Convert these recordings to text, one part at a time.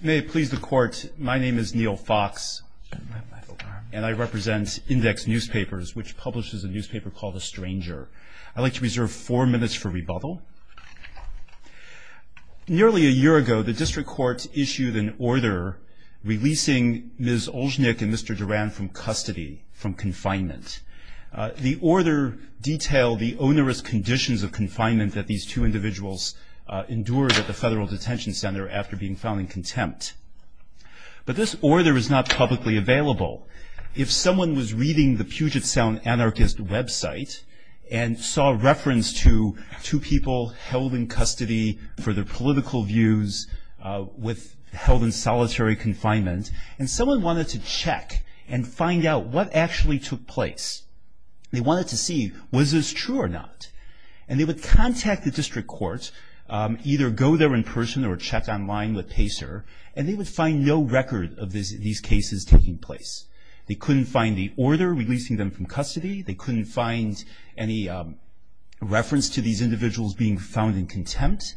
May it please the Court, my name is Neil Fox, and I represent Index Newspapers, which publishes a newspaper called A Stranger. I'd like to reserve four minutes for rebuttal. Nearly a year ago, the District Court issued an order releasing Ms. Olshnik and Mr. Duran from custody, from confinement. The order detailed the onerous conditions of confinement that these two individuals endured at the Federal Detention Center after being found in contempt. But this order is not publicly available. If someone was reading the Puget Sound Anarchist website and saw reference to two people held in custody for their political views, with held in solitary confinement, and someone wanted to check and find out what actually took place. They wanted to see, was this true or not? And they would contact the District Court, either go there in person or check online with PACER, and they would find no record of these cases taking place. They couldn't find the order releasing them from custody. They couldn't find any reference to these individuals being found in contempt.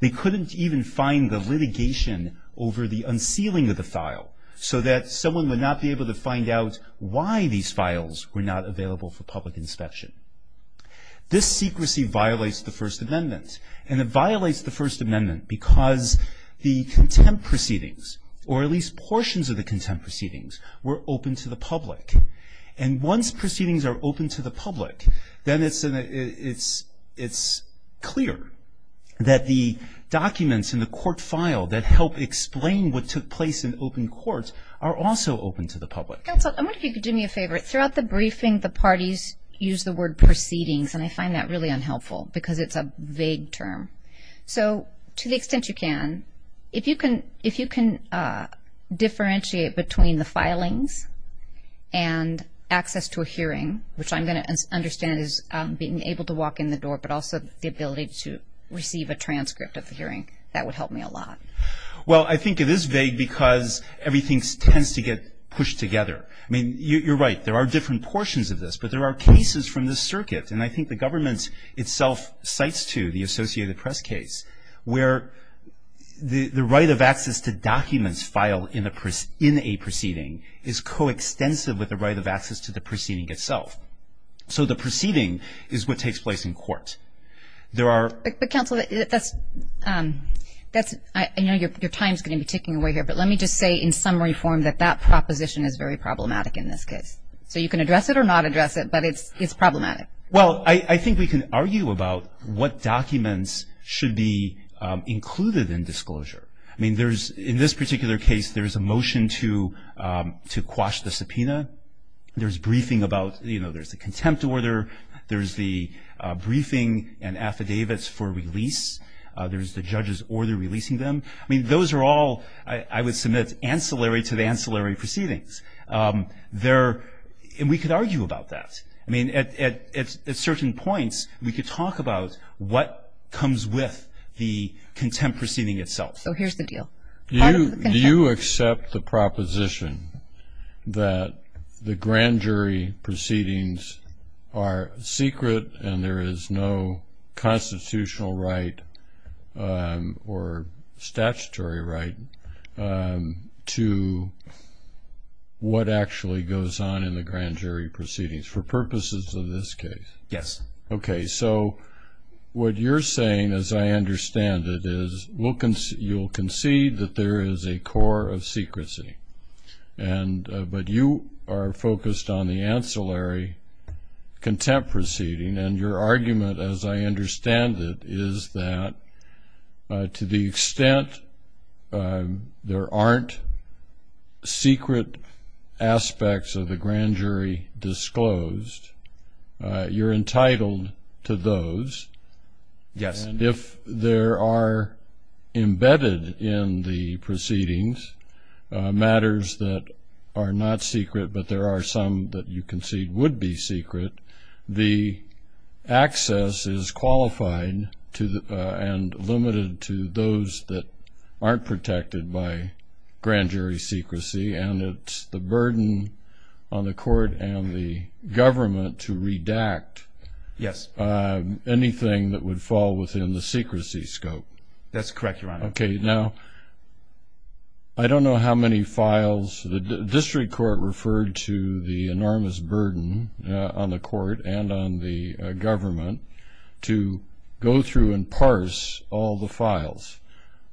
They couldn't even find the litigation over the unsealing of the file, so that someone would not be able to find out why these files were not available for public inspection. This secrecy violates the First Amendment. And it violates the First Amendment because the contempt proceedings, or at least portions of the contempt proceedings, were open to the public. And once proceedings are open to the public, then it's clear that the documents in the court file that help explain what took place in open courts are also open to the public. Counsel, I wonder if you could do me a favor. Throughout the briefing, the parties use the word proceedings, and I find that really unhelpful because it's a vague term. So to the extent you can, if you can differentiate between the filings and access to a hearing, which I'm going to understand as being able to walk in the door, but also the ability to receive a transcript of the hearing, that would help me a lot. Well, I think it is vague because everything tends to get pushed together. I mean, you're right. There are different portions of this, but there are cases from this circuit, and I think the government itself cites two, the Associated Press case, where the right of access to documents filed in a proceeding is coextensive with the right of access to the proceeding itself. So the proceeding is what takes place in court. There are — But, Counsel, that's — I know your time is going to be ticking away here, but let me just say in summary form that that proposition is very problematic in this case. So you can address it or not address it, but it's problematic. Well, I think we can argue about what documents should be included in disclosure. I mean, there's — in this particular case, there's a motion to quash the subpoena. There's briefing about — you know, there's a contempt order. There's the briefing and affidavits for release. There's the judge's order releasing them. I mean, those are all, I would submit, ancillary to the ancillary proceedings. There — and we could argue about that. I mean, at certain points, we could talk about what comes with the contempt proceeding itself. So here's the deal. Do you accept the proposition that the grand jury proceedings are secret and there is no constitutional right or statutory right to what actually goes on in the grand jury proceedings for purposes of this case? Yes. Okay. So what you're saying, as I understand it, is you'll concede that there is a core of secrecy, but you are focused on the ancillary contempt proceeding, and your argument, as I understand it, is that to the extent there aren't secret aspects of the grand jury disclosed, you're entitled to those. Yes. And if there are embedded in the proceedings matters that are not secret but there are some that you concede would be secret, the access is qualified and limited to those that aren't protected by grand jury secrecy, and it's the burden on the court and the government to redact anything that would fall within the secrecy scope. That's correct, Your Honor. Okay. Now, I don't know how many files the district court referred to the enormous burden on the court and on the government to go through and parse all the files.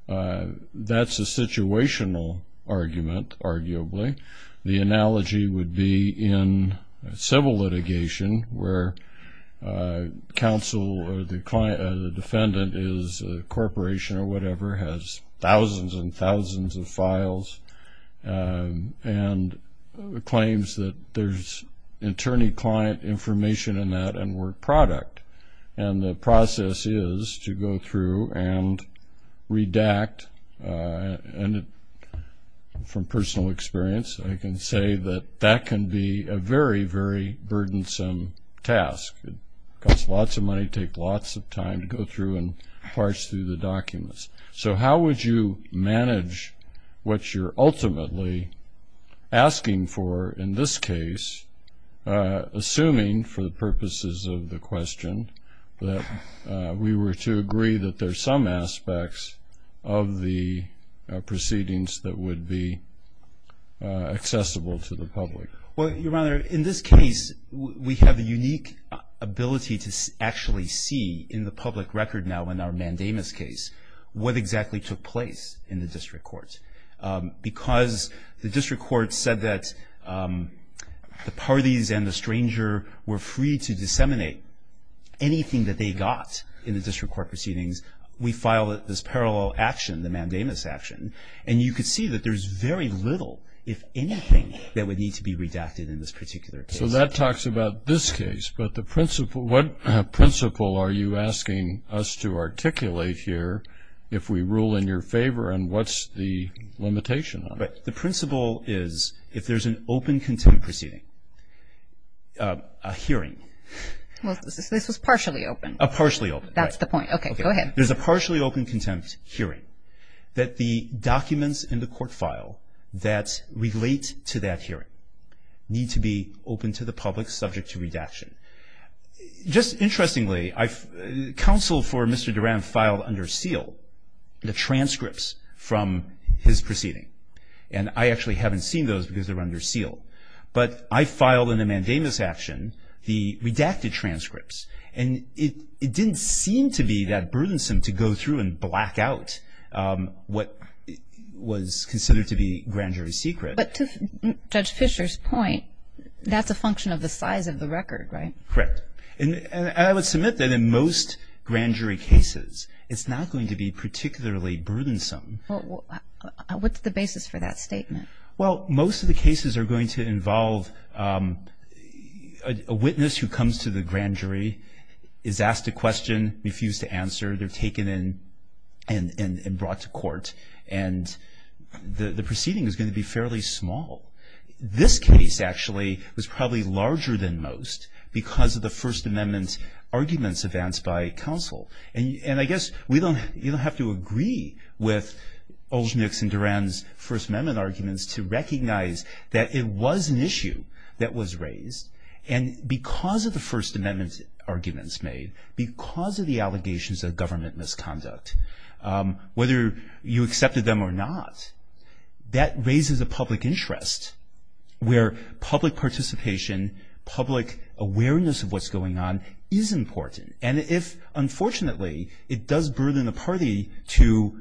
That's a situational argument, arguably. The analogy would be in civil litigation where counsel or the defendant is a corporation or whatever, has thousands and thousands of files and claims that there's attorney-client information in that and we're product, and the process is to go through and redact, and from personal experience I can say that that can be a very, very burdensome task. It costs lots of money, takes lots of time to go through and parse through the documents. So how would you manage what you're ultimately asking for in this case, assuming, for the purposes of the question, that we were to agree that there's some aspects of the proceedings that would be accessible to the public? Well, Your Honor, in this case we have the unique ability to actually see in the public record now in our mandamus case what exactly took place in the district courts because the district courts said that the parties and the stranger were free to disseminate anything that they got in the district court proceedings. We filed this parallel action, the mandamus action, and you could see that there's very little, if anything, that would need to be redacted in this particular case. So that talks about this case, but what principle are you asking us to articulate here if we rule in your favor and what's the limitation on it? The principle is if there's an open contempt proceeding, a hearing. Well, this was partially open. Partially open. That's the point. Okay, go ahead. There's a partially open contempt hearing that the documents in the court file that relate to that hearing need to be open to the public, subject to redaction. Just interestingly, counsel for Mr. Durand filed under seal the transcripts from his proceeding, and I actually haven't seen those because they're under seal. But I filed in the mandamus action the redacted transcripts, and it didn't seem to be that burdensome to go through and black out what was considered to be grand jury secret. But to Judge Fischer's point, that's a function of the size of the record, right? Correct. And I would submit that in most grand jury cases, it's not going to be particularly burdensome. What's the basis for that statement? Well, most of the cases are going to involve a witness who comes to the grand jury, is asked a question, refused to answer. They're taken in and brought to court. And the proceeding is going to be fairly small. This case, actually, was probably larger than most because of the First Amendment arguments advanced by counsel. And I guess we don't have to agree with Olshnick's and Durand's First Amendment arguments to recognize that it was an issue that was raised. And because of the First Amendment arguments made, because of the allegations of government misconduct, whether you accepted them or not, that raises a public interest where public participation, public awareness of what's going on is important. And if, unfortunately, it does burden a party to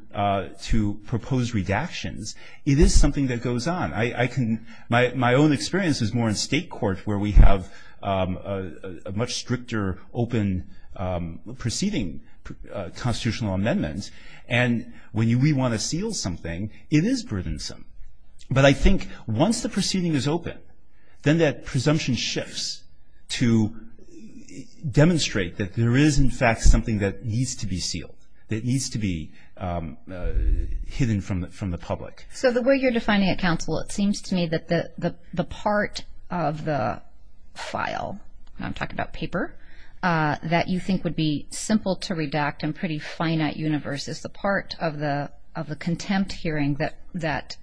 propose redactions, it is something that goes on. My own experience is more in state court where we have a much stricter, open proceeding constitutional amendment. And when we want to seal something, it is burdensome. But I think once the proceeding is open, then that presumption shifts to demonstrate that there is, in fact, something that needs to be sealed, that needs to be hidden from the public. So the way you're defining a counsel, it seems to me that the part of the file, I'm talking about paper, that you think would be simple to redact and pretty finite universe is the part of the contempt hearing that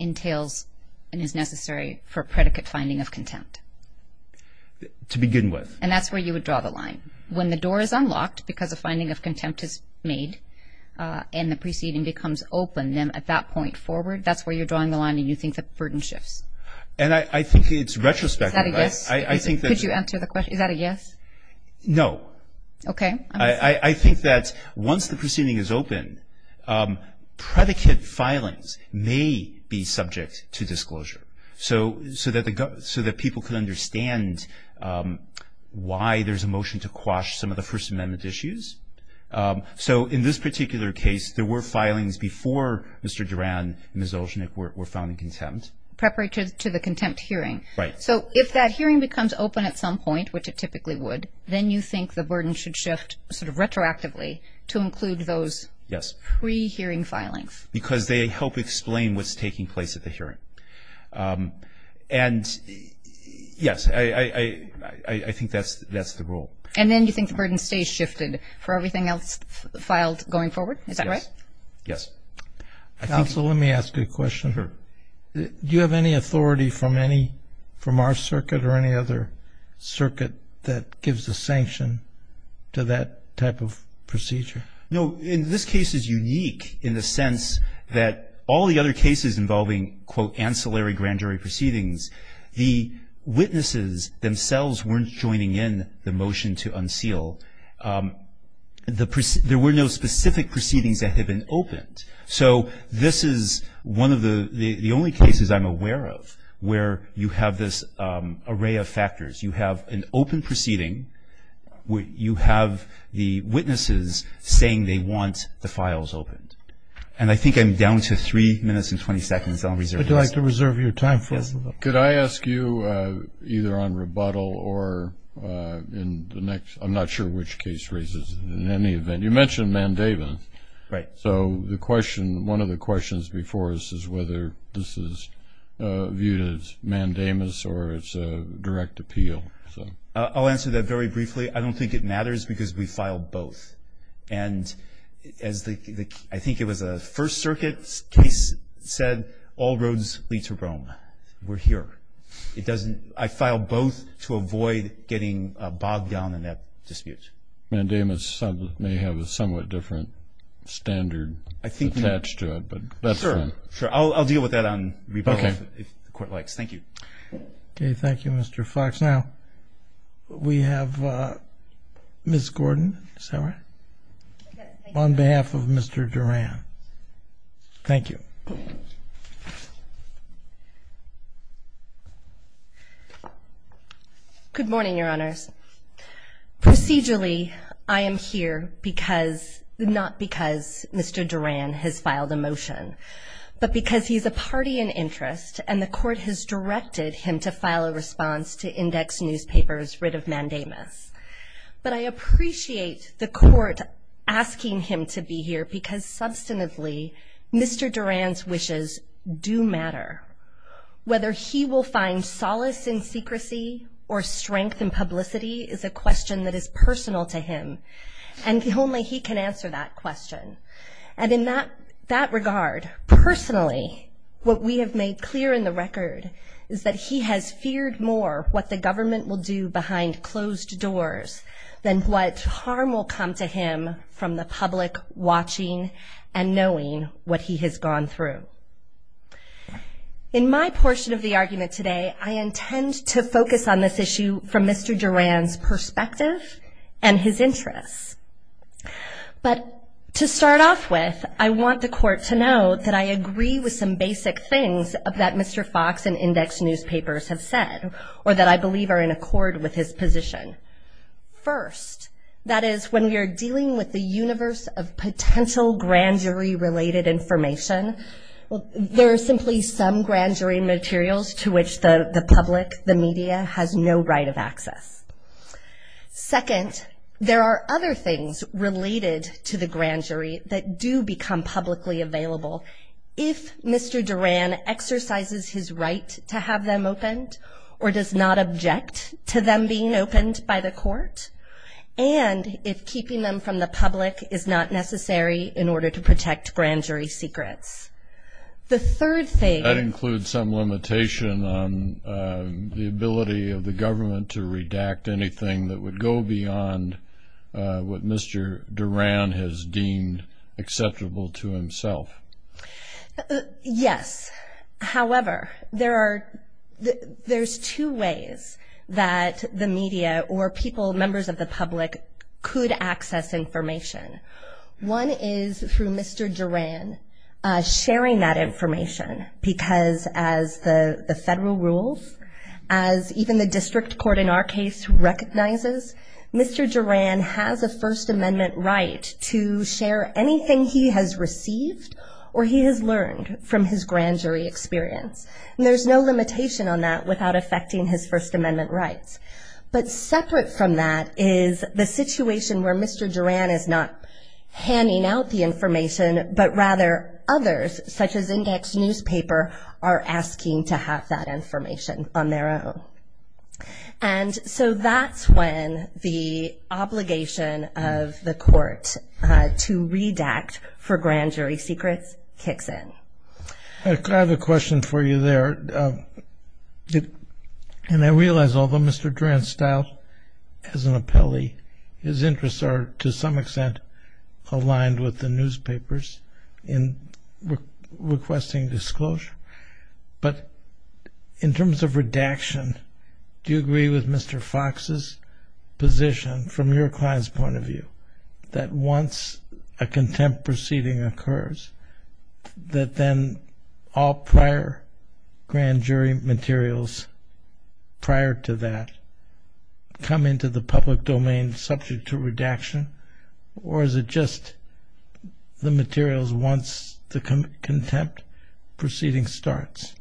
entails and is necessary for predicate finding of contempt. To begin with. And that's where you would draw the line. When the door is unlocked because a finding of contempt is made and the proceeding becomes open, then at that point forward, that's where you're drawing the line and you think the burden shifts. And I think it's retrospective. Is that a yes? Could you answer the question? Is that a yes? No. Okay. I think that once the proceeding is open, predicate filings may be subject to disclosure so that people can understand why there's a motion to quash some of the First Amendment issues. So in this particular case, there were filings before Mr. Duran and Ms. Olchenek were found in contempt. Preparatory to the contempt hearing. Right. So if that hearing becomes open at some point, which it typically would, then you think the burden should shift sort of retroactively to include those pre-hearing filings. Because they help explain what's taking place at the hearing. And yes, I think that's the rule. And then you think the burden stays shifted for everything else filed going forward? Is that right? Yes. Yes. Counsel, let me ask you a question. Sure. Do you have any authority from our circuit or any other circuit that gives a sanction to that type of procedure? No. This case is unique in the sense that all the other cases involving, quote, the motion to unseal, there were no specific proceedings that had been opened. So this is one of the only cases I'm aware of where you have this array of factors. You have an open proceeding. You have the witnesses saying they want the files opened. And I think I'm down to three minutes and 20 seconds. I'll reserve the rest. Would you like to reserve your time for us? Yes. Could I ask you, either on rebuttal or in the next ‑‑ I'm not sure which case raises it in any event. You mentioned mandamus. Right. So one of the questions before us is whether this is viewed as mandamus or it's a direct appeal. I'll answer that very briefly. I don't think it matters because we filed both. And as I think it was a First Circuit case said, all roads lead to Rome. We're here. I filed both to avoid getting bogged down in that dispute. Mandamus may have a somewhat different standard attached to it. Sure. I'll deal with that on rebuttal if the court likes. Thank you. Okay. Thank you, Mr. Fox. Now we have Ms. Gordon. Is that right? On behalf of Mr. Duran. Thank you. Good morning, Your Honors. Procedurally, I am here not because Mr. Duran has filed a motion, but because he's a party in interest and the court has directed him to file a response to index newspapers rid of mandamus. But I appreciate the court asking him to be here because, substantively, Mr. Duran's wishes do matter. Whether he will find solace in secrecy or strength in publicity is a question that is personal to him, and only he can answer that question. And in that regard, personally, what we have made clear in the record is that he has feared more what the government will do behind closed doors than what harm will come to him from the public watching and knowing what he has gone through. In my portion of the argument today, I intend to focus on this issue from Mr. Duran's perspective and his interests. But to start off with, I want the court to know that I agree with some basic things that Mr. Fox and index newspapers have said, or that I believe are in accord with his position. First, that is, when we are dealing with the universe of potential grand jury-related information, there are simply some grand jury materials to which the public, the media, has no right of access. Second, there are other things related to the grand jury that do become publicly available if Mr. Duran exercises his right to have them opened or does not object to them being opened by the court, and if keeping them from the public is not necessary in order to protect grand jury secrets. The third thing- That includes some limitation on the ability of the government to redact anything that would go beyond what Mr. Duran has deemed acceptable to himself. Yes. However, there's two ways that the media or people, members of the public, could access information. One is through Mr. Duran sharing that information, because as the federal rules, as even the district court in our case recognizes, Mr. Duran has a First Amendment right to share anything he has received or he has learned from his grand jury experience. And there's no limitation on that without affecting his First Amendment rights. But separate from that is the situation where Mr. Duran is not handing out the information, but rather others, such as index newspaper, are asking to have that information on their own. And so that's when the obligation of the court to redact for grand jury secrets kicks in. I have a question for you there. And I realize, although Mr. Duran's style as an appellee, his interests are to some extent aligned with the newspapers in requesting disclosure. But in terms of redaction, do you agree with Mr. Fox's position from your client's point of view that once a contempt proceeding occurs, that then all prior grand jury materials prior to that come into the public domain subject to redaction? Or is it just the materials once the contempt proceeding starts?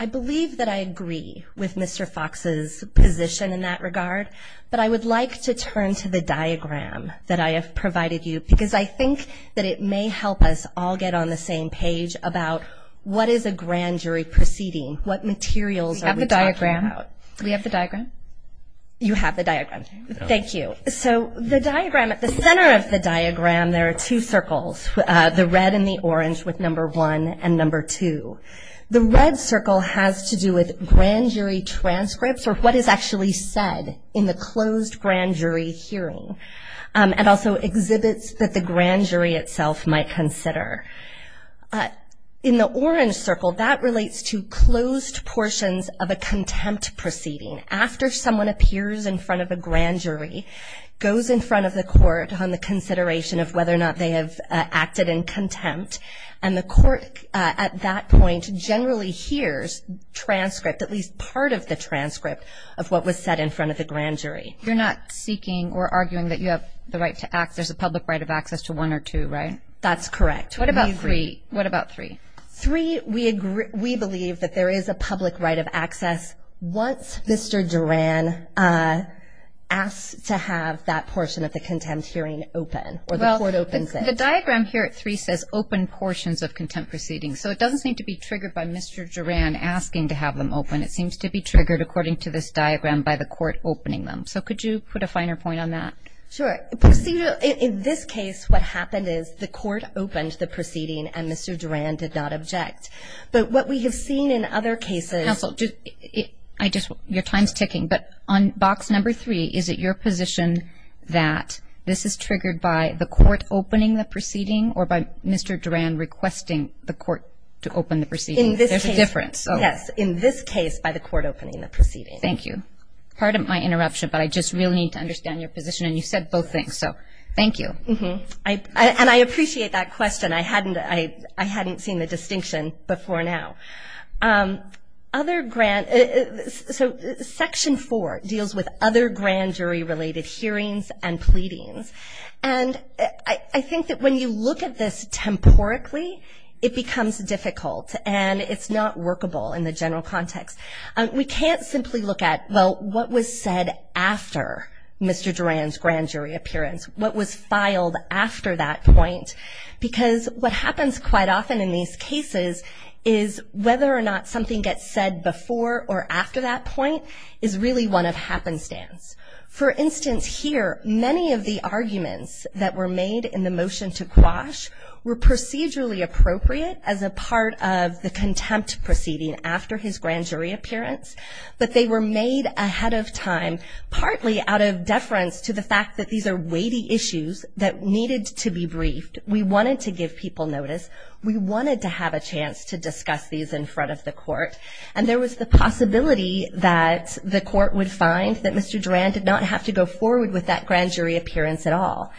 I believe that I agree with Mr. Fox's position in that regard. But I would like to turn to the diagram that I have provided you, because I think that it may help us all get on the same page about what is a grand jury proceeding, what materials are we talking about? We have the diagram. We have the diagram? You have the diagram. Thank you. So the diagram, at the center of the diagram, there are two circles, the red and the orange with number one and number two. The red circle has to do with grand jury transcripts or what is actually said in the closed grand jury hearing, and also exhibits that the grand jury itself might consider. In the orange circle, that relates to closed portions of a contempt proceeding. After someone appears in front of a grand jury, goes in front of the court on the consideration of whether or not they have acted in contempt, and the court at that point generally hears transcript, at least part of the transcript of what was said in front of the grand jury. You're not seeking or arguing that you have the right to act. There's a public right of access to one or two, right? That's correct. What about three? Three, we believe that there is a public right of access once Mr. Duran asks to have that portion of the contempt hearing open or the court opens it. The diagram here at three says open portions of contempt proceedings, so it doesn't seem to be triggered by Mr. Duran asking to have them open. It seems to be triggered, according to this diagram, by the court opening them. So could you put a finer point on that? Sure. In this case, what happened is the court opened the proceeding and Mr. Duran did not object. But what we have seen in other cases – Counsel, your time is ticking, but on box number three, is it your position that this is triggered by the court opening the proceeding or by Mr. Duran requesting the court to open the proceeding? In this case. There's a difference. Yes, in this case by the court opening the proceeding. Thank you. Pardon my interruption, but I just really need to understand your position, and you said both things, so thank you. And I appreciate that question. I hadn't seen the distinction before now. So Section 4 deals with other grand jury-related hearings and pleadings, and I think that when you look at this temporically, it becomes difficult, and it's not workable in the general context. We can't simply look at, well, what was said after Mr. Duran's grand jury appearance, what was filed after that point, because what happens quite often in these cases is whether or not something gets said before or after that point is really one of happenstance. For instance, here, many of the arguments that were made in the motion to quash were procedurally appropriate as a part of the contempt proceeding after his grand jury appearance, but they were made ahead of time partly out of deference to the fact that these are weighty issues that needed to be briefed. We wanted to give people notice. We wanted to have a chance to discuss these in front of the court, and there was the possibility that the court would find that Mr. Duran did not have to go forward with that grand jury appearance at all.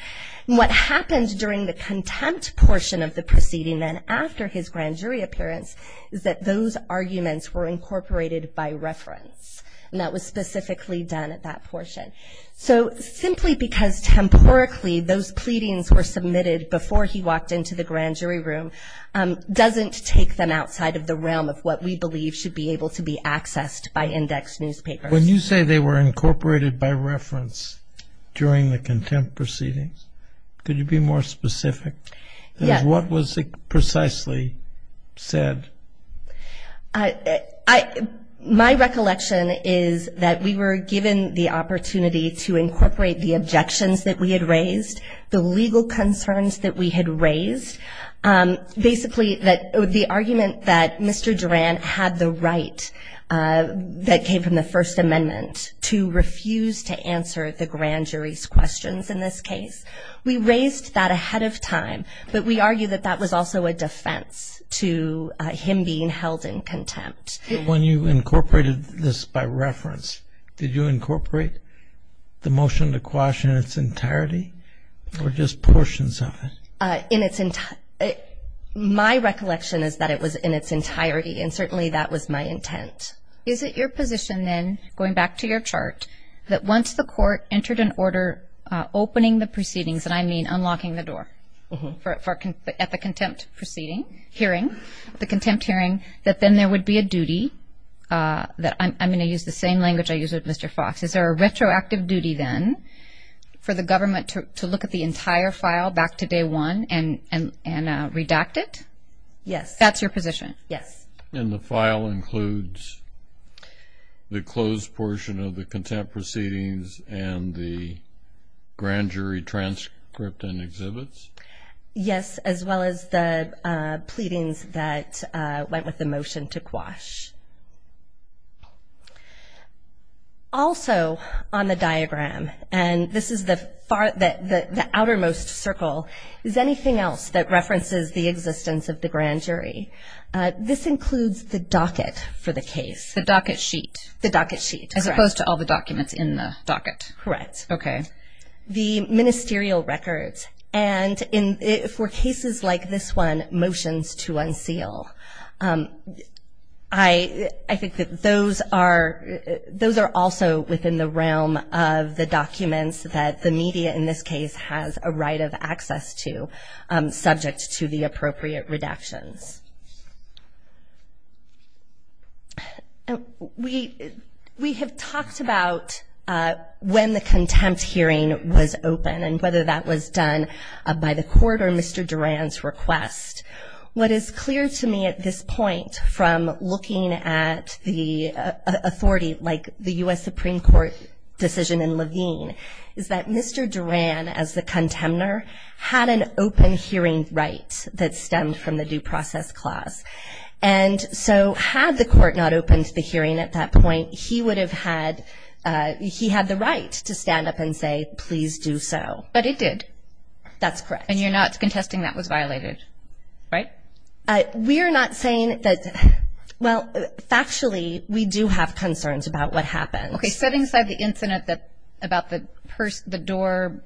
And what happened during the contempt portion of the proceeding and after his grand jury appearance is that those arguments were incorporated by reference, and that was specifically done at that portion. So simply because temporally those pleadings were submitted before he walked into the grand jury room doesn't take them outside of the realm of what we believe should be able to be accessed by index newspapers. When you say they were incorporated by reference during the contempt proceedings, could you be more specific? Yes. What was precisely said? My recollection is that we were given the opportunity to incorporate the objections that we had raised, the legal concerns that we had raised. Basically, the argument that Mr. Duran had the right that came from the First Amendment to refuse to answer the grand jury's questions in this case, we raised that ahead of time, but we argue that that was also a defense to him being held in contempt. When you incorporated this by reference, did you incorporate the motion to quash in its entirety or just portions of it? My recollection is that it was in its entirety, and certainly that was my intent. Is it your position then, going back to your chart, that once the court entered an order opening the proceedings, and I mean unlocking the door at the contempt hearing, that then there would be a duty that I'm going to use the same language I used with Mr. Fox. Is there a retroactive duty then for the government to look at the entire file back to day one and redact it? Yes. That's your position? Yes. And the file includes the closed portion of the contempt proceedings and the grand jury transcript and exhibits? Yes, as well as the pleadings that went with the motion to quash. Also on the diagram, and this is the outermost circle, is anything else that references the existence of the grand jury. This includes the docket for the case. The docket sheet. The docket sheet, correct. As opposed to all the documents in the docket. Correct. Okay. The ministerial records, and for cases like this one, motions to unseal. I think that those are also within the realm of the documents that the media, in this case, has a right of access to subject to the appropriate redactions. We have talked about when the contempt hearing was open and whether that was done by the court or Mr. Duran's request. What is clear to me at this point from looking at the authority, like the U.S. Supreme Court decision in Levine, is that Mr. Duran, as the contemptor, had an open hearing right that stemmed from the due process clause. And so had the court not opened the hearing at that point, he would have had the right to stand up and say, please do so. But it did. That's correct. And you're not contesting that was violated, right? We're not saying that, well, factually, we do have concerns about what happened. Okay. Setting aside the incident about the door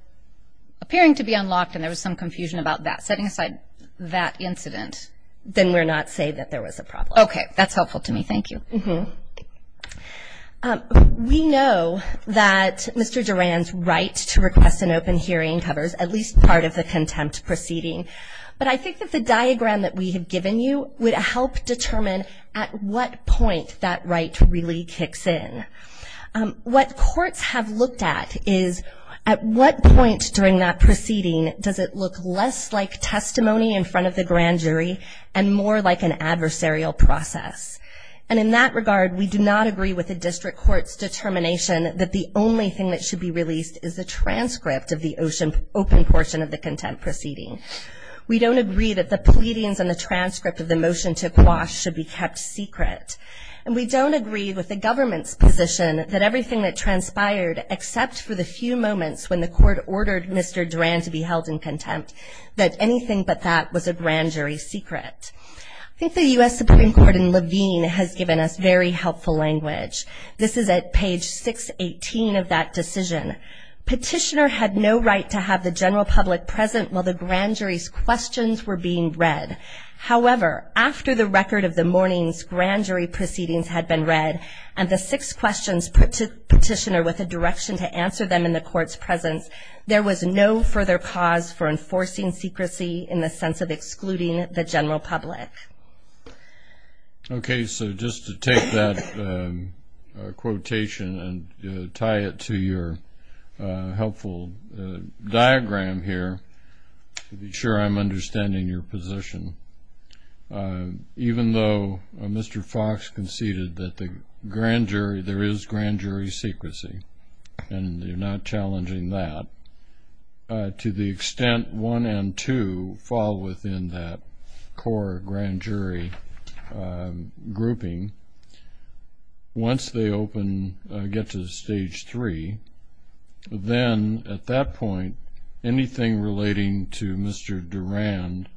appearing to be unlocked and there was some confusion about that, setting aside that incident. Then we're not saying that there was a problem. Okay. That's helpful to me. Thank you. We know that Mr. Duran's right to request an open hearing covers at least part of the contempt proceeding. But I think that the diagram that we have given you would help determine at what point that right really kicks in. What courts have looked at is at what point during that proceeding does it look less like testimony in front of the grand jury and more like an adversarial process. And in that regard, we do not agree with the district court's determination that the only thing that should be released is the transcript of the open portion of the contempt proceeding. We don't agree that the pleadings and the transcript of the motion to quash should be kept secret. And we don't agree with the government's position that everything that transpired, except for the few moments when the court ordered Mr. Duran to be held in contempt, that anything but that was a grand jury secret. I think the U.S. Supreme Court in Levine has given us very helpful language. This is at page 618 of that decision. Petitioner had no right to have the general public present while the grand jury's questions were being read. However, after the record of the morning's grand jury proceedings had been read and the six questions put to petitioner with a direction to answer them in the court's presence, there was no further cause for enforcing secrecy in the sense of excluding the general public. Okay, so just to take that quotation and tie it to your helpful diagram here, to be sure I'm understanding your position, even though Mr. Fox conceded that there is grand jury secrecy and you're not challenging that, to the extent one and two fall within that core grand jury grouping, once they get to stage three, then at that point anything relating to Mr. Duran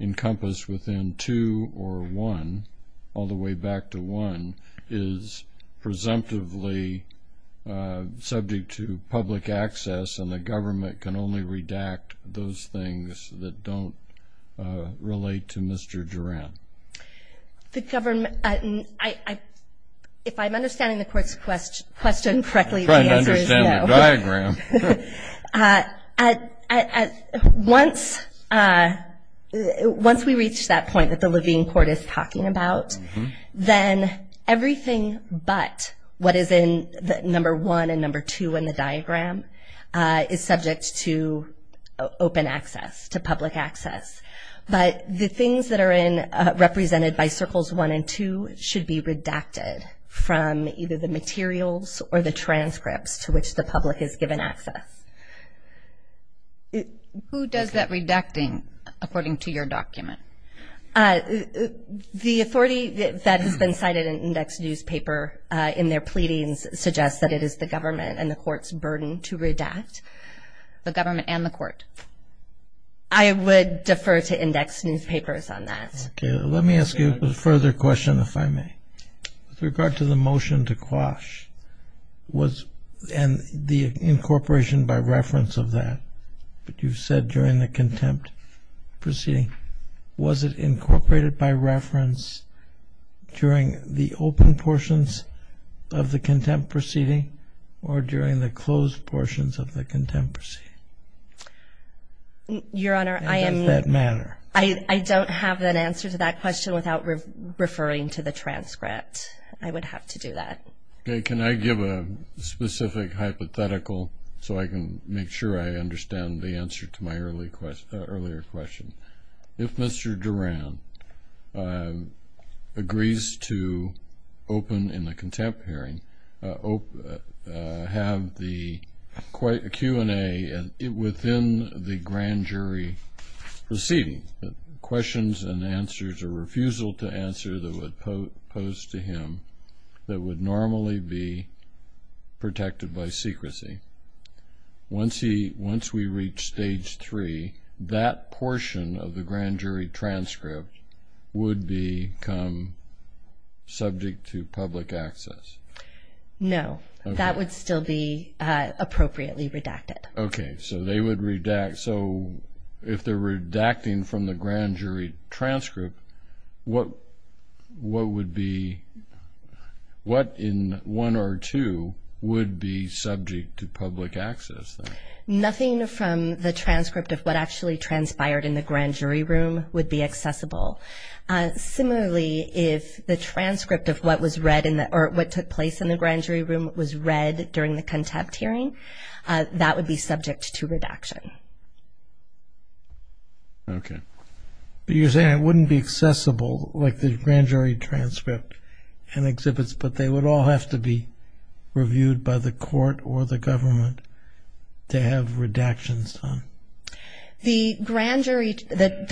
encompassed within two or one, all the way back to one, is presumptively subject to public access and the government can only redact those things that don't relate to Mr. Duran. If I'm understanding the court's question correctly, the answer is no. I'm trying to understand the diagram. Once we reach that point that the Levine court is talking about, then everything but what is in number one and number two in the diagram is subject to open access, to public access. But the things that are represented by circles one and two should be redacted from either the materials or the transcripts to which the public is given access. Who does that redacting, according to your document? The authority that has been cited in indexed newspaper in their pleadings suggests that it is the government and the court's burden to redact, the government and the court. I would defer to indexed newspapers on that. Let me ask you a further question, if I may. With regard to the motion to quash and the incorporation by reference of that that you've said during the contempt proceeding, was it incorporated by reference during the open portions of the contempt proceeding or during the closed portions of the contempt proceeding? Your Honor, I don't have an answer to that question without referring to the transcript. I would have to do that. Okay. Can I give a specific hypothetical so I can make sure I understand the answer to my earlier question? If Mr. Duran agrees to open in the contempt hearing, have the Q&A within the grand jury proceeding, questions and answers or refusal to answer that would pose to him that would normally be protected by secrecy. Once we reach stage three, that portion of the grand jury transcript would become subject to public access. No. That would still be appropriately redacted. Okay. So they would redact. So if they're redacting from the grand jury transcript, what in one or two would be subject to public access? Nothing from the transcript of what actually transpired in the grand jury room would be accessible. Similarly, if the transcript of what was read or what took place in the grand jury room was read during the contempt hearing, that would be subject to redaction. Okay. But you're saying it wouldn't be accessible, like the grand jury transcript and exhibits, but they would all have to be reviewed by the court or the government to have redactions done? The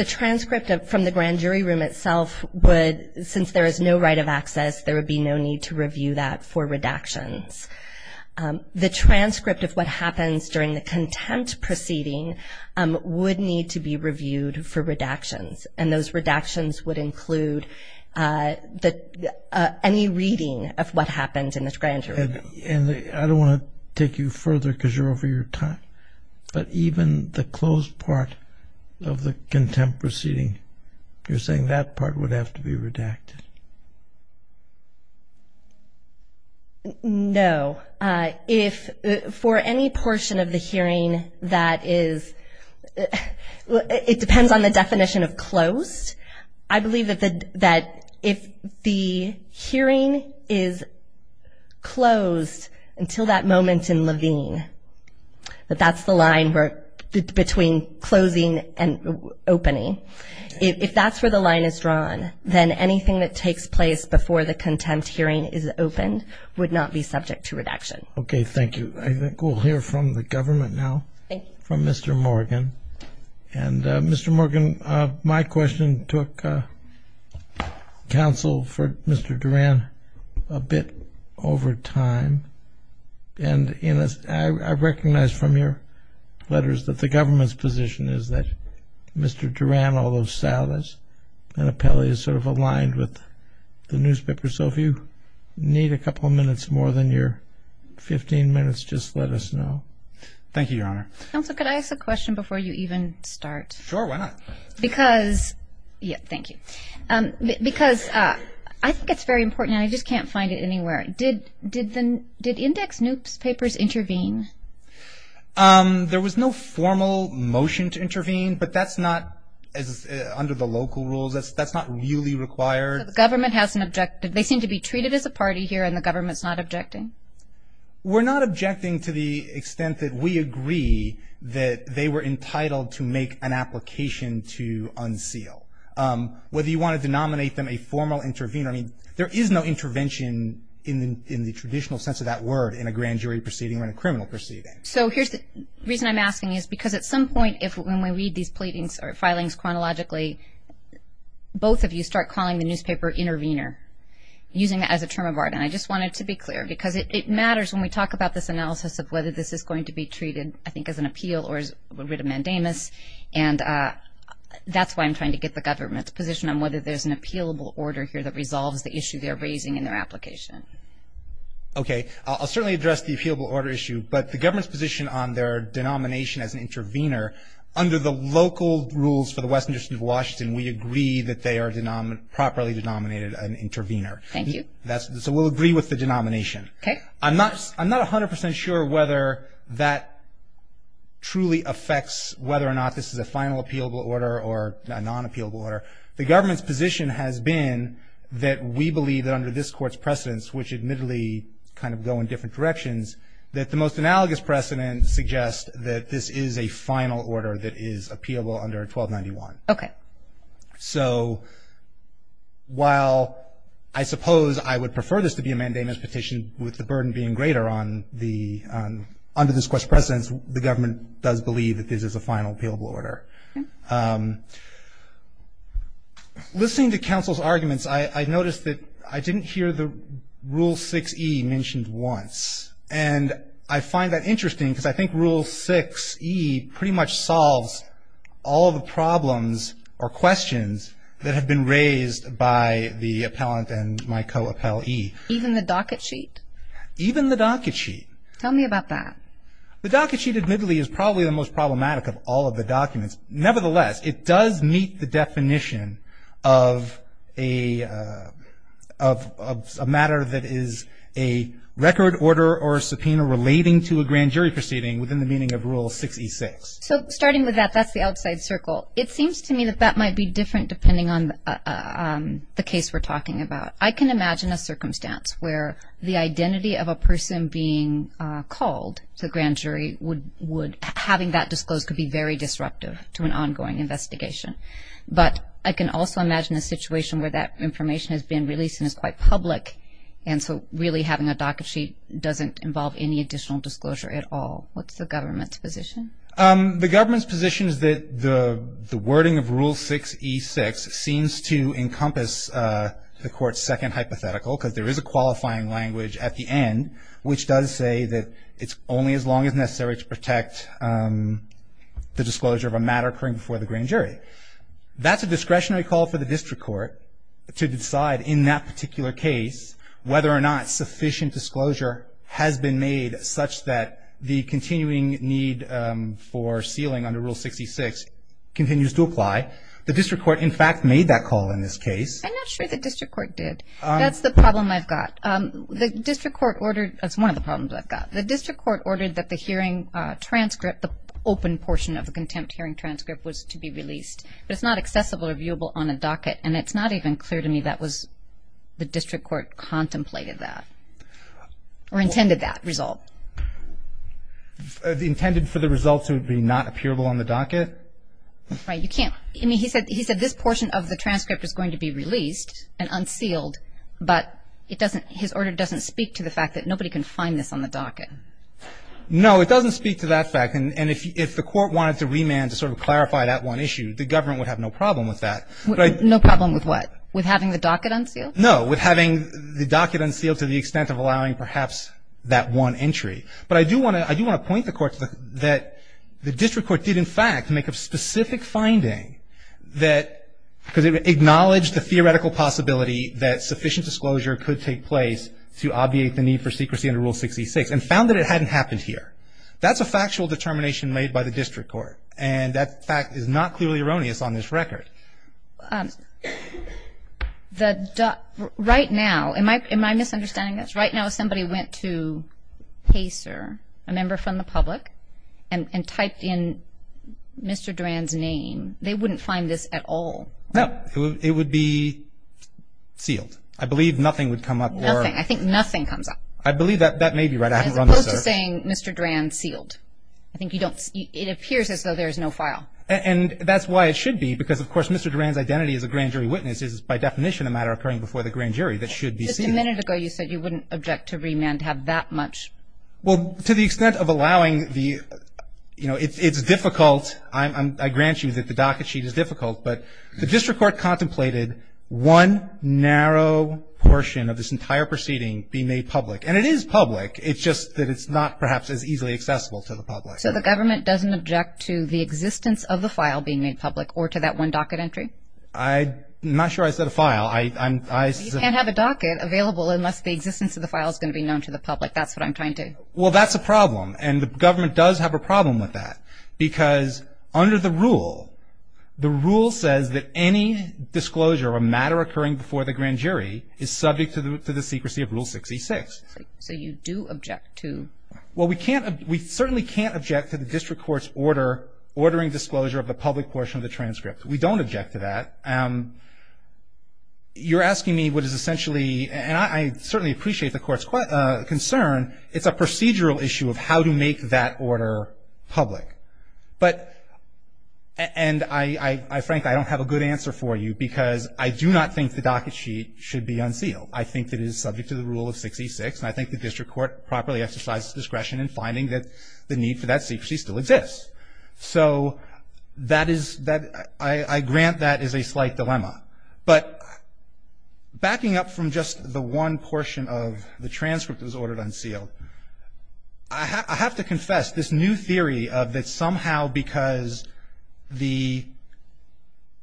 transcript from the grand jury room itself would, since there is no right of access, there would be no need to review that for redactions. The transcript of what happens during the contempt proceeding would need to be reviewed for redactions, and those redactions would include any reading of what happened in the grand jury room. And I don't want to take you further because you're over your time, but even the closed part of the contempt proceeding, you're saying that part would have to be redacted? No. If for any portion of the hearing that is, it depends on the definition of closed. I believe that if the hearing is closed until that moment in Levine, that that's the line between closing and opening, if that's where the line is drawn, then anything that takes place before the contempt hearing is opened would not be subject to redaction. Okay, thank you. I think we'll hear from the government now, from Mr. Morgan. And Mr. Morgan, my question took counsel for Mr. Duran a bit over time, and I recognize from your letters that the government's position is that Mr. Duran, and Appelli is sort of aligned with the newspaper, so if you need a couple of minutes more than your 15 minutes, just let us know. Thank you, Your Honor. Counsel, could I ask a question before you even start? Sure, why not? Because, yeah, thank you. Because I think it's very important, and I just can't find it anywhere. Did index newspapers intervene? There was no formal motion to intervene, but that's not, under the local rules, that's not really required. So the government has an objective. They seem to be treated as a party here, and the government's not objecting? We're not objecting to the extent that we agree that they were entitled to make an application to unseal. Whether you want to denominate them a formal intervener, I mean, there is no intervention in the traditional sense of that word in a grand jury proceeding or in a criminal proceeding. So here's the reason I'm asking is because at some point, when we read these pleadings or filings chronologically, both of you start calling the newspaper intervener, using that as a term of art, and I just wanted to be clear because it matters when we talk about this analysis of whether this is going to be treated, I think, as an appeal or as writ of mandamus, and that's why I'm trying to get the government's position on whether there's an appealable order here that resolves the issue they're raising in their application. Okay. I'll certainly address the appealable order issue, but the government's position on their denomination as an intervener, under the local rules for the Western District of Washington, we agree that they are properly denominated an intervener. Thank you. So we'll agree with the denomination. Okay. I'm not 100 percent sure whether that truly affects whether or not this is a final appealable order or a non-appealable order. The government's position has been that we believe that under this Court's precedence, which admittedly kind of go in different directions, that the most analogous precedent suggests that this is a final order that is appealable under 1291. Okay. So while I suppose I would prefer this to be a mandamus petition with the burden being greater under this Court's precedence, the government does believe that this is a final appealable order. Okay. Listening to counsel's arguments, I noticed that I didn't hear the Rule 6e mentioned once. And I find that interesting because I think Rule 6e pretty much solves all the problems or questions that have been raised by the appellant and my co-appellee. Even the docket sheet? Even the docket sheet. Tell me about that. The docket sheet admittedly is probably the most problematic of all of the documents. Nevertheless, it does meet the definition of a matter that is a record order or a subpoena relating to a grand jury proceeding within the meaning of Rule 6e6. So starting with that, that's the outside circle. It seems to me that that might be different depending on the case we're talking about. I can imagine a circumstance where the identity of a person being called to the grand jury would having that disclosed could be very disruptive to an ongoing investigation. But I can also imagine a situation where that information has been released and is quite public, and so really having a docket sheet doesn't involve any additional disclosure at all. What's the government's position? The government's position is that the wording of Rule 6e6 seems to encompass the court's second hypothetical because there is a qualifying language at the end which does say that it's only as long as necessary to protect the disclosure of a matter occurring before the grand jury. That's a discretionary call for the district court to decide in that particular case whether or not sufficient disclosure has been made such that the continuing need for sealing under Rule 6e6 continues to apply. The district court, in fact, made that call in this case. I'm not sure the district court did. That's the problem I've got. The district court ordered – that's one of the problems I've got. The district court ordered that the hearing transcript, the open portion of the contempt hearing transcript, was to be released, but it's not accessible or viewable on a docket, and it's not even clear to me that the district court contemplated that or intended that result. Intended for the result to be not appearable on the docket? Right. I mean, he said this portion of the transcript is going to be released and unsealed, but his order doesn't speak to the fact that nobody can find this on the docket. No, it doesn't speak to that fact, and if the court wanted to remand to sort of clarify that one issue, the government would have no problem with that. No problem with what? With having the docket unsealed? No, with having the docket unsealed to the extent of allowing perhaps that one entry. But I do want to point the court to the fact that the district court did, in fact, make a specific finding that – because it acknowledged the theoretical possibility that sufficient disclosure could take place to obviate the need for secrecy under Rule 66 and found that it hadn't happened here. That's a factual determination made by the district court, and that fact is not clearly erroneous on this record. Right now, am I misunderstanding this? Right now if somebody went to, hey, sir, a member from the public, and typed in Mr. Duran's name, they wouldn't find this at all? No. It would be sealed. I believe nothing would come up. Nothing. I think nothing comes up. I believe that may be right. I haven't run the search. As opposed to saying, Mr. Duran, sealed. I think you don't – it appears as though there is no file. And that's why it should be, because, of course, Mr. Duran's identity as a grand jury witness is by definition a matter occurring before the grand jury that should be sealed. Just a minute ago you said you wouldn't object to remand have that much. Well, to the extent of allowing the – you know, it's difficult. I grant you that the docket sheet is difficult. But the district court contemplated one narrow portion of this entire proceeding be made public. And it is public. It's just that it's not perhaps as easily accessible to the public. So the government doesn't object to the existence of the file being made public or to that one docket entry? I'm not sure I said a file. I'm – You can't have a docket available unless the existence of the file is going to be known to the public. That's what I'm trying to – Well, that's a problem. And the government does have a problem with that, because under the rule, the rule says that any disclosure of a matter occurring before the grand jury is subject to the secrecy of Rule 66. So you do object to – Well, we can't – we certainly can't object to the district court's order ordering disclosure of the public portion of the transcript. We don't object to that. You're asking me what is essentially – and I certainly appreciate the court's concern. It's a procedural issue of how to make that order public. But – and I – Frank, I don't have a good answer for you, because I do not think the docket sheet should be unsealed. I think it is subject to the rule of 66, and I think the district court properly exercises discretion in finding that the need for that secrecy still exists. So that is – that – I grant that as a slight dilemma. But backing up from just the one portion of the transcript that was ordered unsealed, I have to confess this new theory of that somehow because the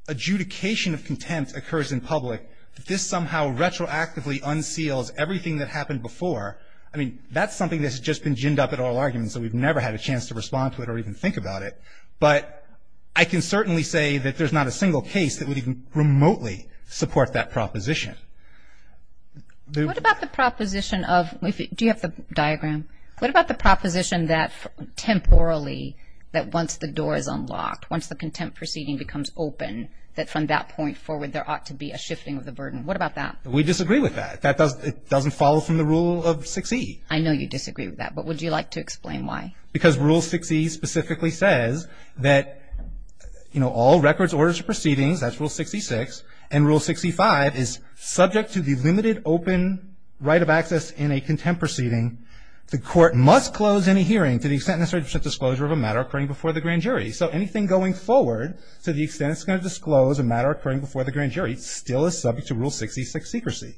adjudication of contempt occurs in public, this somehow retroactively unseals everything that happened before. I mean, that's something that's just been ginned up at oral arguments, so we've never had a chance to respond to it or even think about it. But I can certainly say that there's not a single case that would even remotely support that proposition. What about the proposition of – do you have the diagram? What about the proposition that temporally, that once the door is unlocked, once the contempt proceeding becomes open, that from that point forward, there ought to be a shifting of the burden? What about that? We disagree with that. It doesn't follow from the rule of 6E. I know you disagree with that, but would you like to explain why? Because Rule 6E specifically says that, you know, all records, orders, or proceedings, that's Rule 66, and Rule 65 is subject to the limited open right of access in a contempt proceeding. The court must close any hearing to the extent necessary for disclosure of a matter occurring before the grand jury. So anything going forward to the extent it's going to disclose a matter occurring before the grand jury still is subject to Rule 66 secrecy.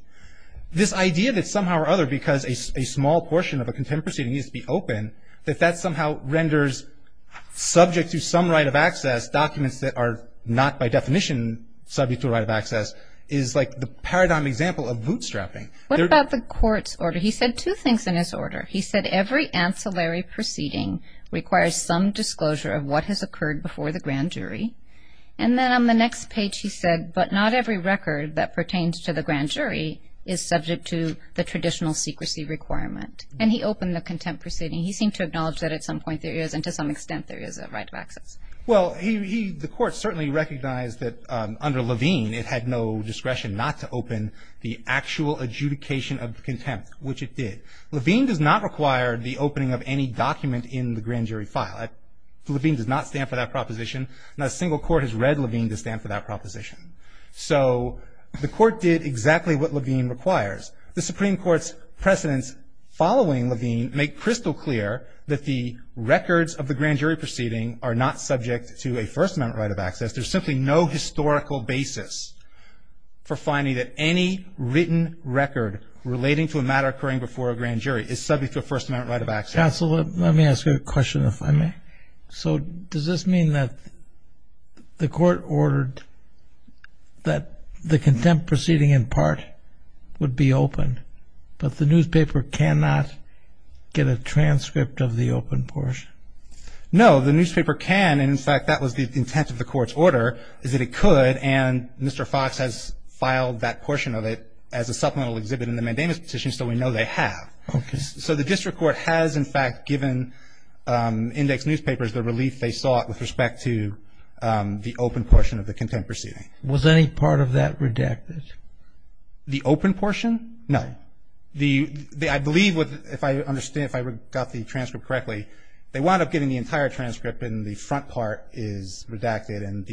This idea that somehow or other, because a small portion of a contempt proceeding needs to be open, that that somehow renders subject to some right of access documents that are not by definition subject to the right of access is like the paradigm example of bootstrapping. What about the court's order? He said two things in his order. He said every ancillary proceeding requires some disclosure of what has occurred before the grand jury. And then on the next page he said, but not every record that pertains to the grand jury is subject to the traditional secrecy requirement. And he opened the contempt proceeding. He seemed to acknowledge that at some point there is, and to some extent there is, a right of access. Well, the court certainly recognized that under Levine it had no discretion not to open the actual adjudication of contempt, which it did. Levine does not require the opening of any document in the grand jury file. Levine does not stand for that proposition. Not a single court has read Levine to stand for that proposition. So the court did exactly what Levine requires. The Supreme Court's precedents following Levine make crystal clear that the records of the grand jury proceeding are not subject to a First Amendment right of access. There is simply no historical basis for finding that any written record relating to a matter occurring before a grand jury is subject to a First Amendment right of access. Counsel, let me ask you a question, if I may. So does this mean that the court ordered that the contempt proceeding in part would be open, but the newspaper cannot get a transcript of the open portion? No, the newspaper can. And, in fact, that was the intent of the court's order, is that it could. And Mr. Fox has filed that portion of it as a supplemental exhibit in the mandamus petition, so we know they have. Okay. So the district court has, in fact, given index newspapers the relief they sought with respect to the open portion of the contempt proceeding. Was any part of that redacted? The open portion? No. I believe, if I understand, if I got the transcript correctly, they wound up getting the entire transcript and the front part is redacted. And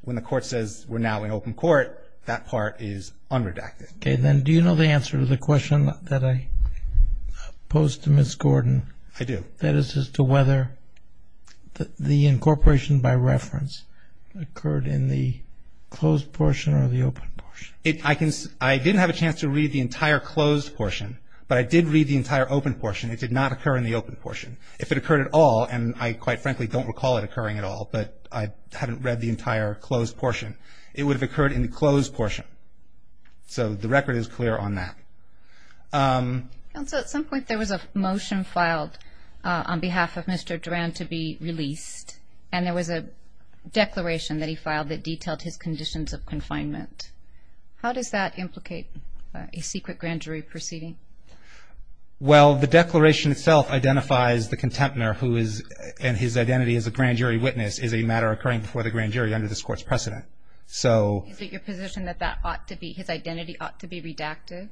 when the court says we're now in open court, that part is unredacted. Okay. Then do you know the answer to the question that I posed to Ms. Gordon? I do. That is as to whether the incorporation by reference occurred in the closed portion or the open portion. I didn't have a chance to read the entire closed portion, but I did read the entire open portion. It did not occur in the open portion. If it occurred at all, and I quite frankly don't recall it occurring at all, but I haven't read the entire closed portion, it would have occurred in the closed portion. So the record is clear on that. Counsel, at some point there was a motion filed on behalf of Mr. Durand to be released, and there was a declaration that he filed that detailed his conditions of confinement. How does that implicate a secret grand jury proceeding? Well, the declaration itself identifies the contemptor who is and his identity as a grand jury witness is a matter occurring before the grand jury under this Court's precedent. Is it your position that his identity ought to be redacted?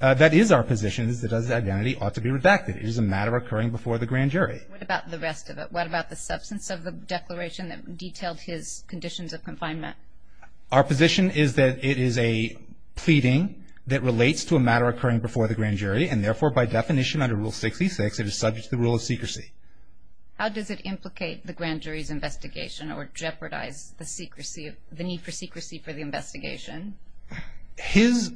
That is our position, that his identity ought to be redacted. It is a matter occurring before the grand jury. What about the rest of it? What about the substance of the declaration that detailed his conditions of confinement? Our position is that it is a pleading that relates to a matter occurring before the grand jury, and therefore by definition under Rule 66 it is subject to the rule of secrecy. How does it implicate the grand jury's investigation or jeopardize the need for secrecy for the investigation? His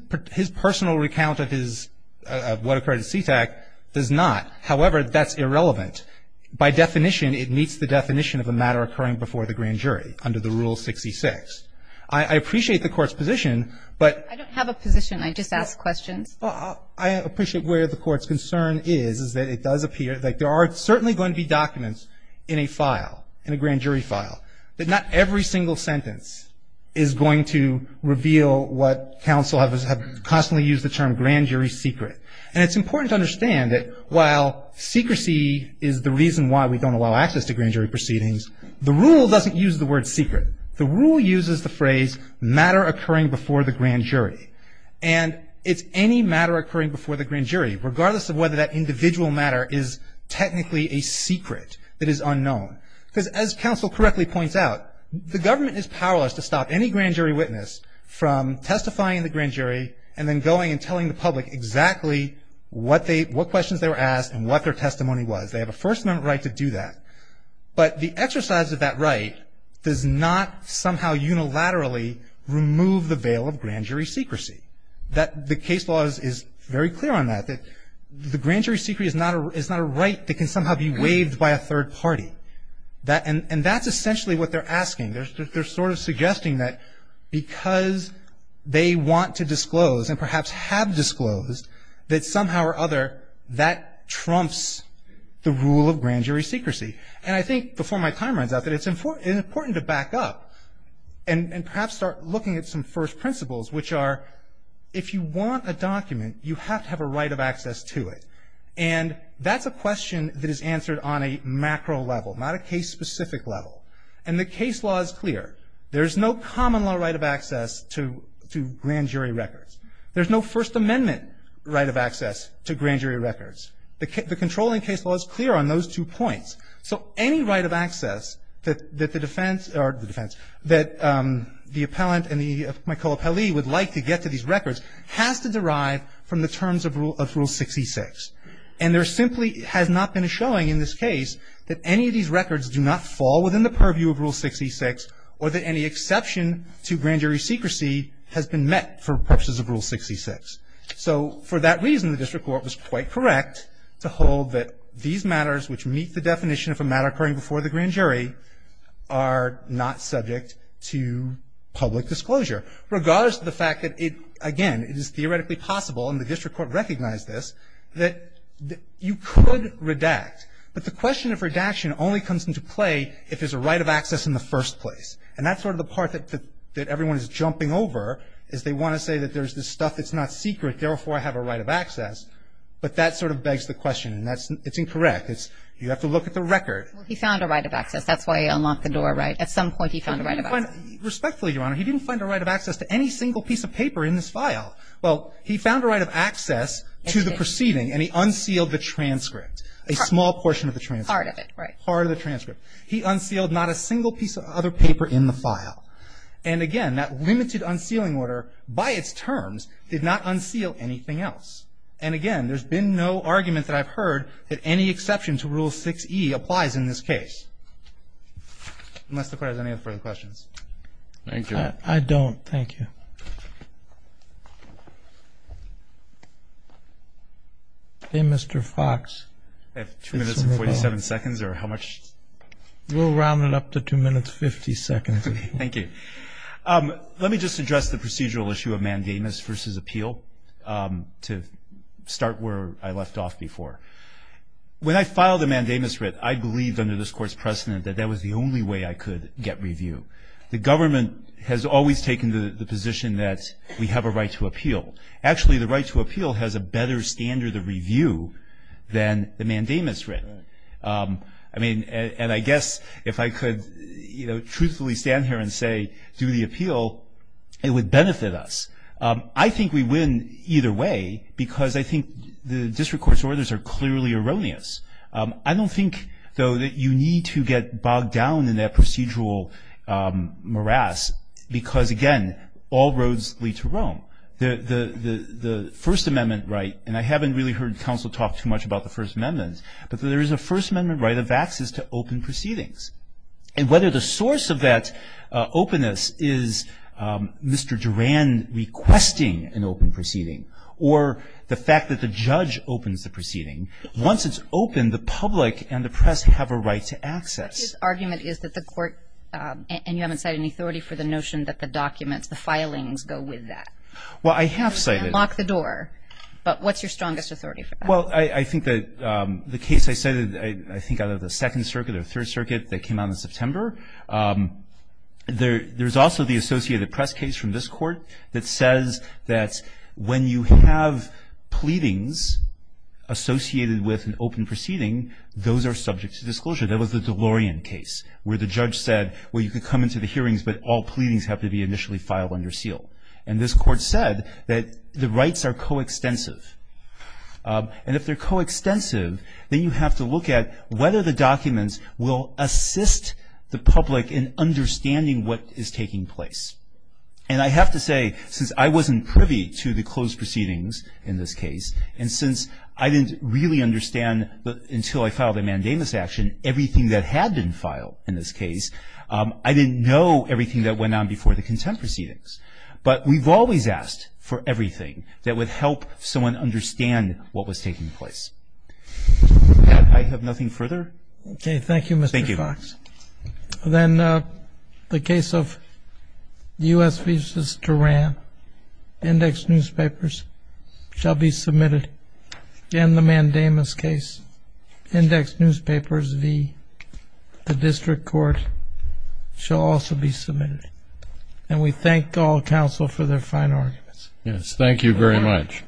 personal recount of what occurred at Sea-Tac does not. However, that's irrelevant. By definition, it meets the definition of a matter occurring before the grand jury under the Rule 66. I appreciate the Court's position, but I don't have a position. I just ask questions. I appreciate where the Court's concern is, is that it does appear that there are certainly going to be documents in a file, in a grand jury file, that not every single sentence is going to reveal what counsel have constantly used the term grand jury secret. And it's important to understand that while secrecy is the reason why we don't allow access to grand jury proceedings, the rule doesn't use the word secret. The rule uses the phrase matter occurring before the grand jury. And it's any matter occurring before the grand jury, regardless of whether that individual matter is technically a secret that is unknown. Because as counsel correctly points out, the government is powerless to stop any grand jury witness from testifying in the grand jury and then going and telling the public exactly what questions they were asked and what their testimony was. They have a First Amendment right to do that. But the exercise of that right does not somehow unilaterally remove the veil of grand jury secrecy. That the case law is very clear on that, that the grand jury secrecy is not a right that can somehow be waived by a third party. And that's essentially what they're asking. They're sort of suggesting that because they want to disclose and perhaps have disclosed that somehow or other that trumps the rule of grand jury secrecy. And I think, before my time runs out, that it's important to back up and perhaps start looking at some first principles, which are, if you want a document, you have to have a right of access to it. And that's a question that is answered on a macro level, not a case-specific level. And the case law is clear. There's no common law right of access to grand jury records. There's no First Amendment right of access to grand jury records. The controlling case law is clear on those two points. So any right of access that the defense, or the defense, that the appellant and my co-appellee would like to get to these records has to derive from the terms of Rule 66. And there simply has not been a showing in this case that any of these records do not fall within the purview of Rule 66 or that any exception to grand jury secrecy has been met for purposes of Rule 66. So for that reason, the district court was quite correct to hold that these matters which meet the definition of a matter occurring before the grand jury are not subject to public disclosure. Regardless of the fact that it, again, it is theoretically possible, and the district court recognized this, that you could redact. But the question of redaction only comes into play if there's a right of access in the first place. And that's sort of the part that everyone is jumping over, is they want to say that there's this stuff that's not secret, therefore I have a right of access. But that sort of begs the question, and it's incorrect. You have to look at the record. He found a right of access. That's why he unlocked the door, right? At some point he found a right of access. Respectfully, Your Honor, he didn't find a right of access to any single piece of paper in this file. Well, he found a right of access to the proceeding, and he unsealed the transcript, a small portion of the transcript. Part of it, right. Part of the transcript. He unsealed not a single piece of other paper in the file. And again, that limited unsealing order, by its terms, did not unseal anything else. And again, there's been no argument that I've heard that any exception to Rule 6E applies in this case. Unless the Court has any further questions. Thank you. I don't. Thank you. Okay, Mr. Fox. I have two minutes and 47 seconds, or how much? We'll round it up to two minutes and 50 seconds. Thank you. Let me just address the procedural issue of mandamus versus appeal to start where I left off before. When I filed the mandamus writ, I believed under this Court's precedent that that was the only way I could get review. The government has always taken the position that we have a right to appeal. Actually, the right to appeal has a better standard of review than the mandamus writ. I mean, and I guess if I could, you know, truthfully stand here and say, do the appeal, it would benefit us. I think we win either way because I think the district court's orders are clearly erroneous. I don't think, though, that you need to get bogged down in that procedural morass because, again, all roads lead to Rome. The First Amendment right, and I haven't really heard counsel talk too much about the First Amendment, but there is a First Amendment right of access to open proceedings. And whether the source of that openness is Mr. Durand requesting an open proceeding or the fact that the judge opens the proceeding, once it's open, the public and the press have a right to access. What his argument is that the court, and you haven't cited any authority for the notion that the documents, the filings go with that. Well, I have cited. You can't lock the door. But what's your strongest authority for that? Well, I think that the case I cited, I think out of the Second Circuit or Third Circuit that came out in September, there's also the associated press case from this Court that says that when you have pleadings associated with an open proceeding, those are subject to disclosure. That was the DeLorean case where the judge said, well, you can come into the hearings, but all pleadings have to be initially filed under seal. And this Court said that the rights are coextensive. And if they're coextensive, then you have to look at whether the documents will assist the public in understanding what is taking place. And I have to say, since I wasn't privy to the closed proceedings in this case, and since I didn't really understand until I filed a mandamus action everything that had been filed in this case, I didn't know everything that went on before the contempt proceedings. But we've always asked for everything that would help someone understand what was taking place. I have nothing further. Okay. Thank you, Mr. Fox. Thank you. Then the case of U.S. v. Tehran. Indexed newspapers shall be submitted in the mandamus case. Indexed newspapers v. the District Court shall also be submitted. And we thank all counsel for their fine arguments. Yes. Thank you very much.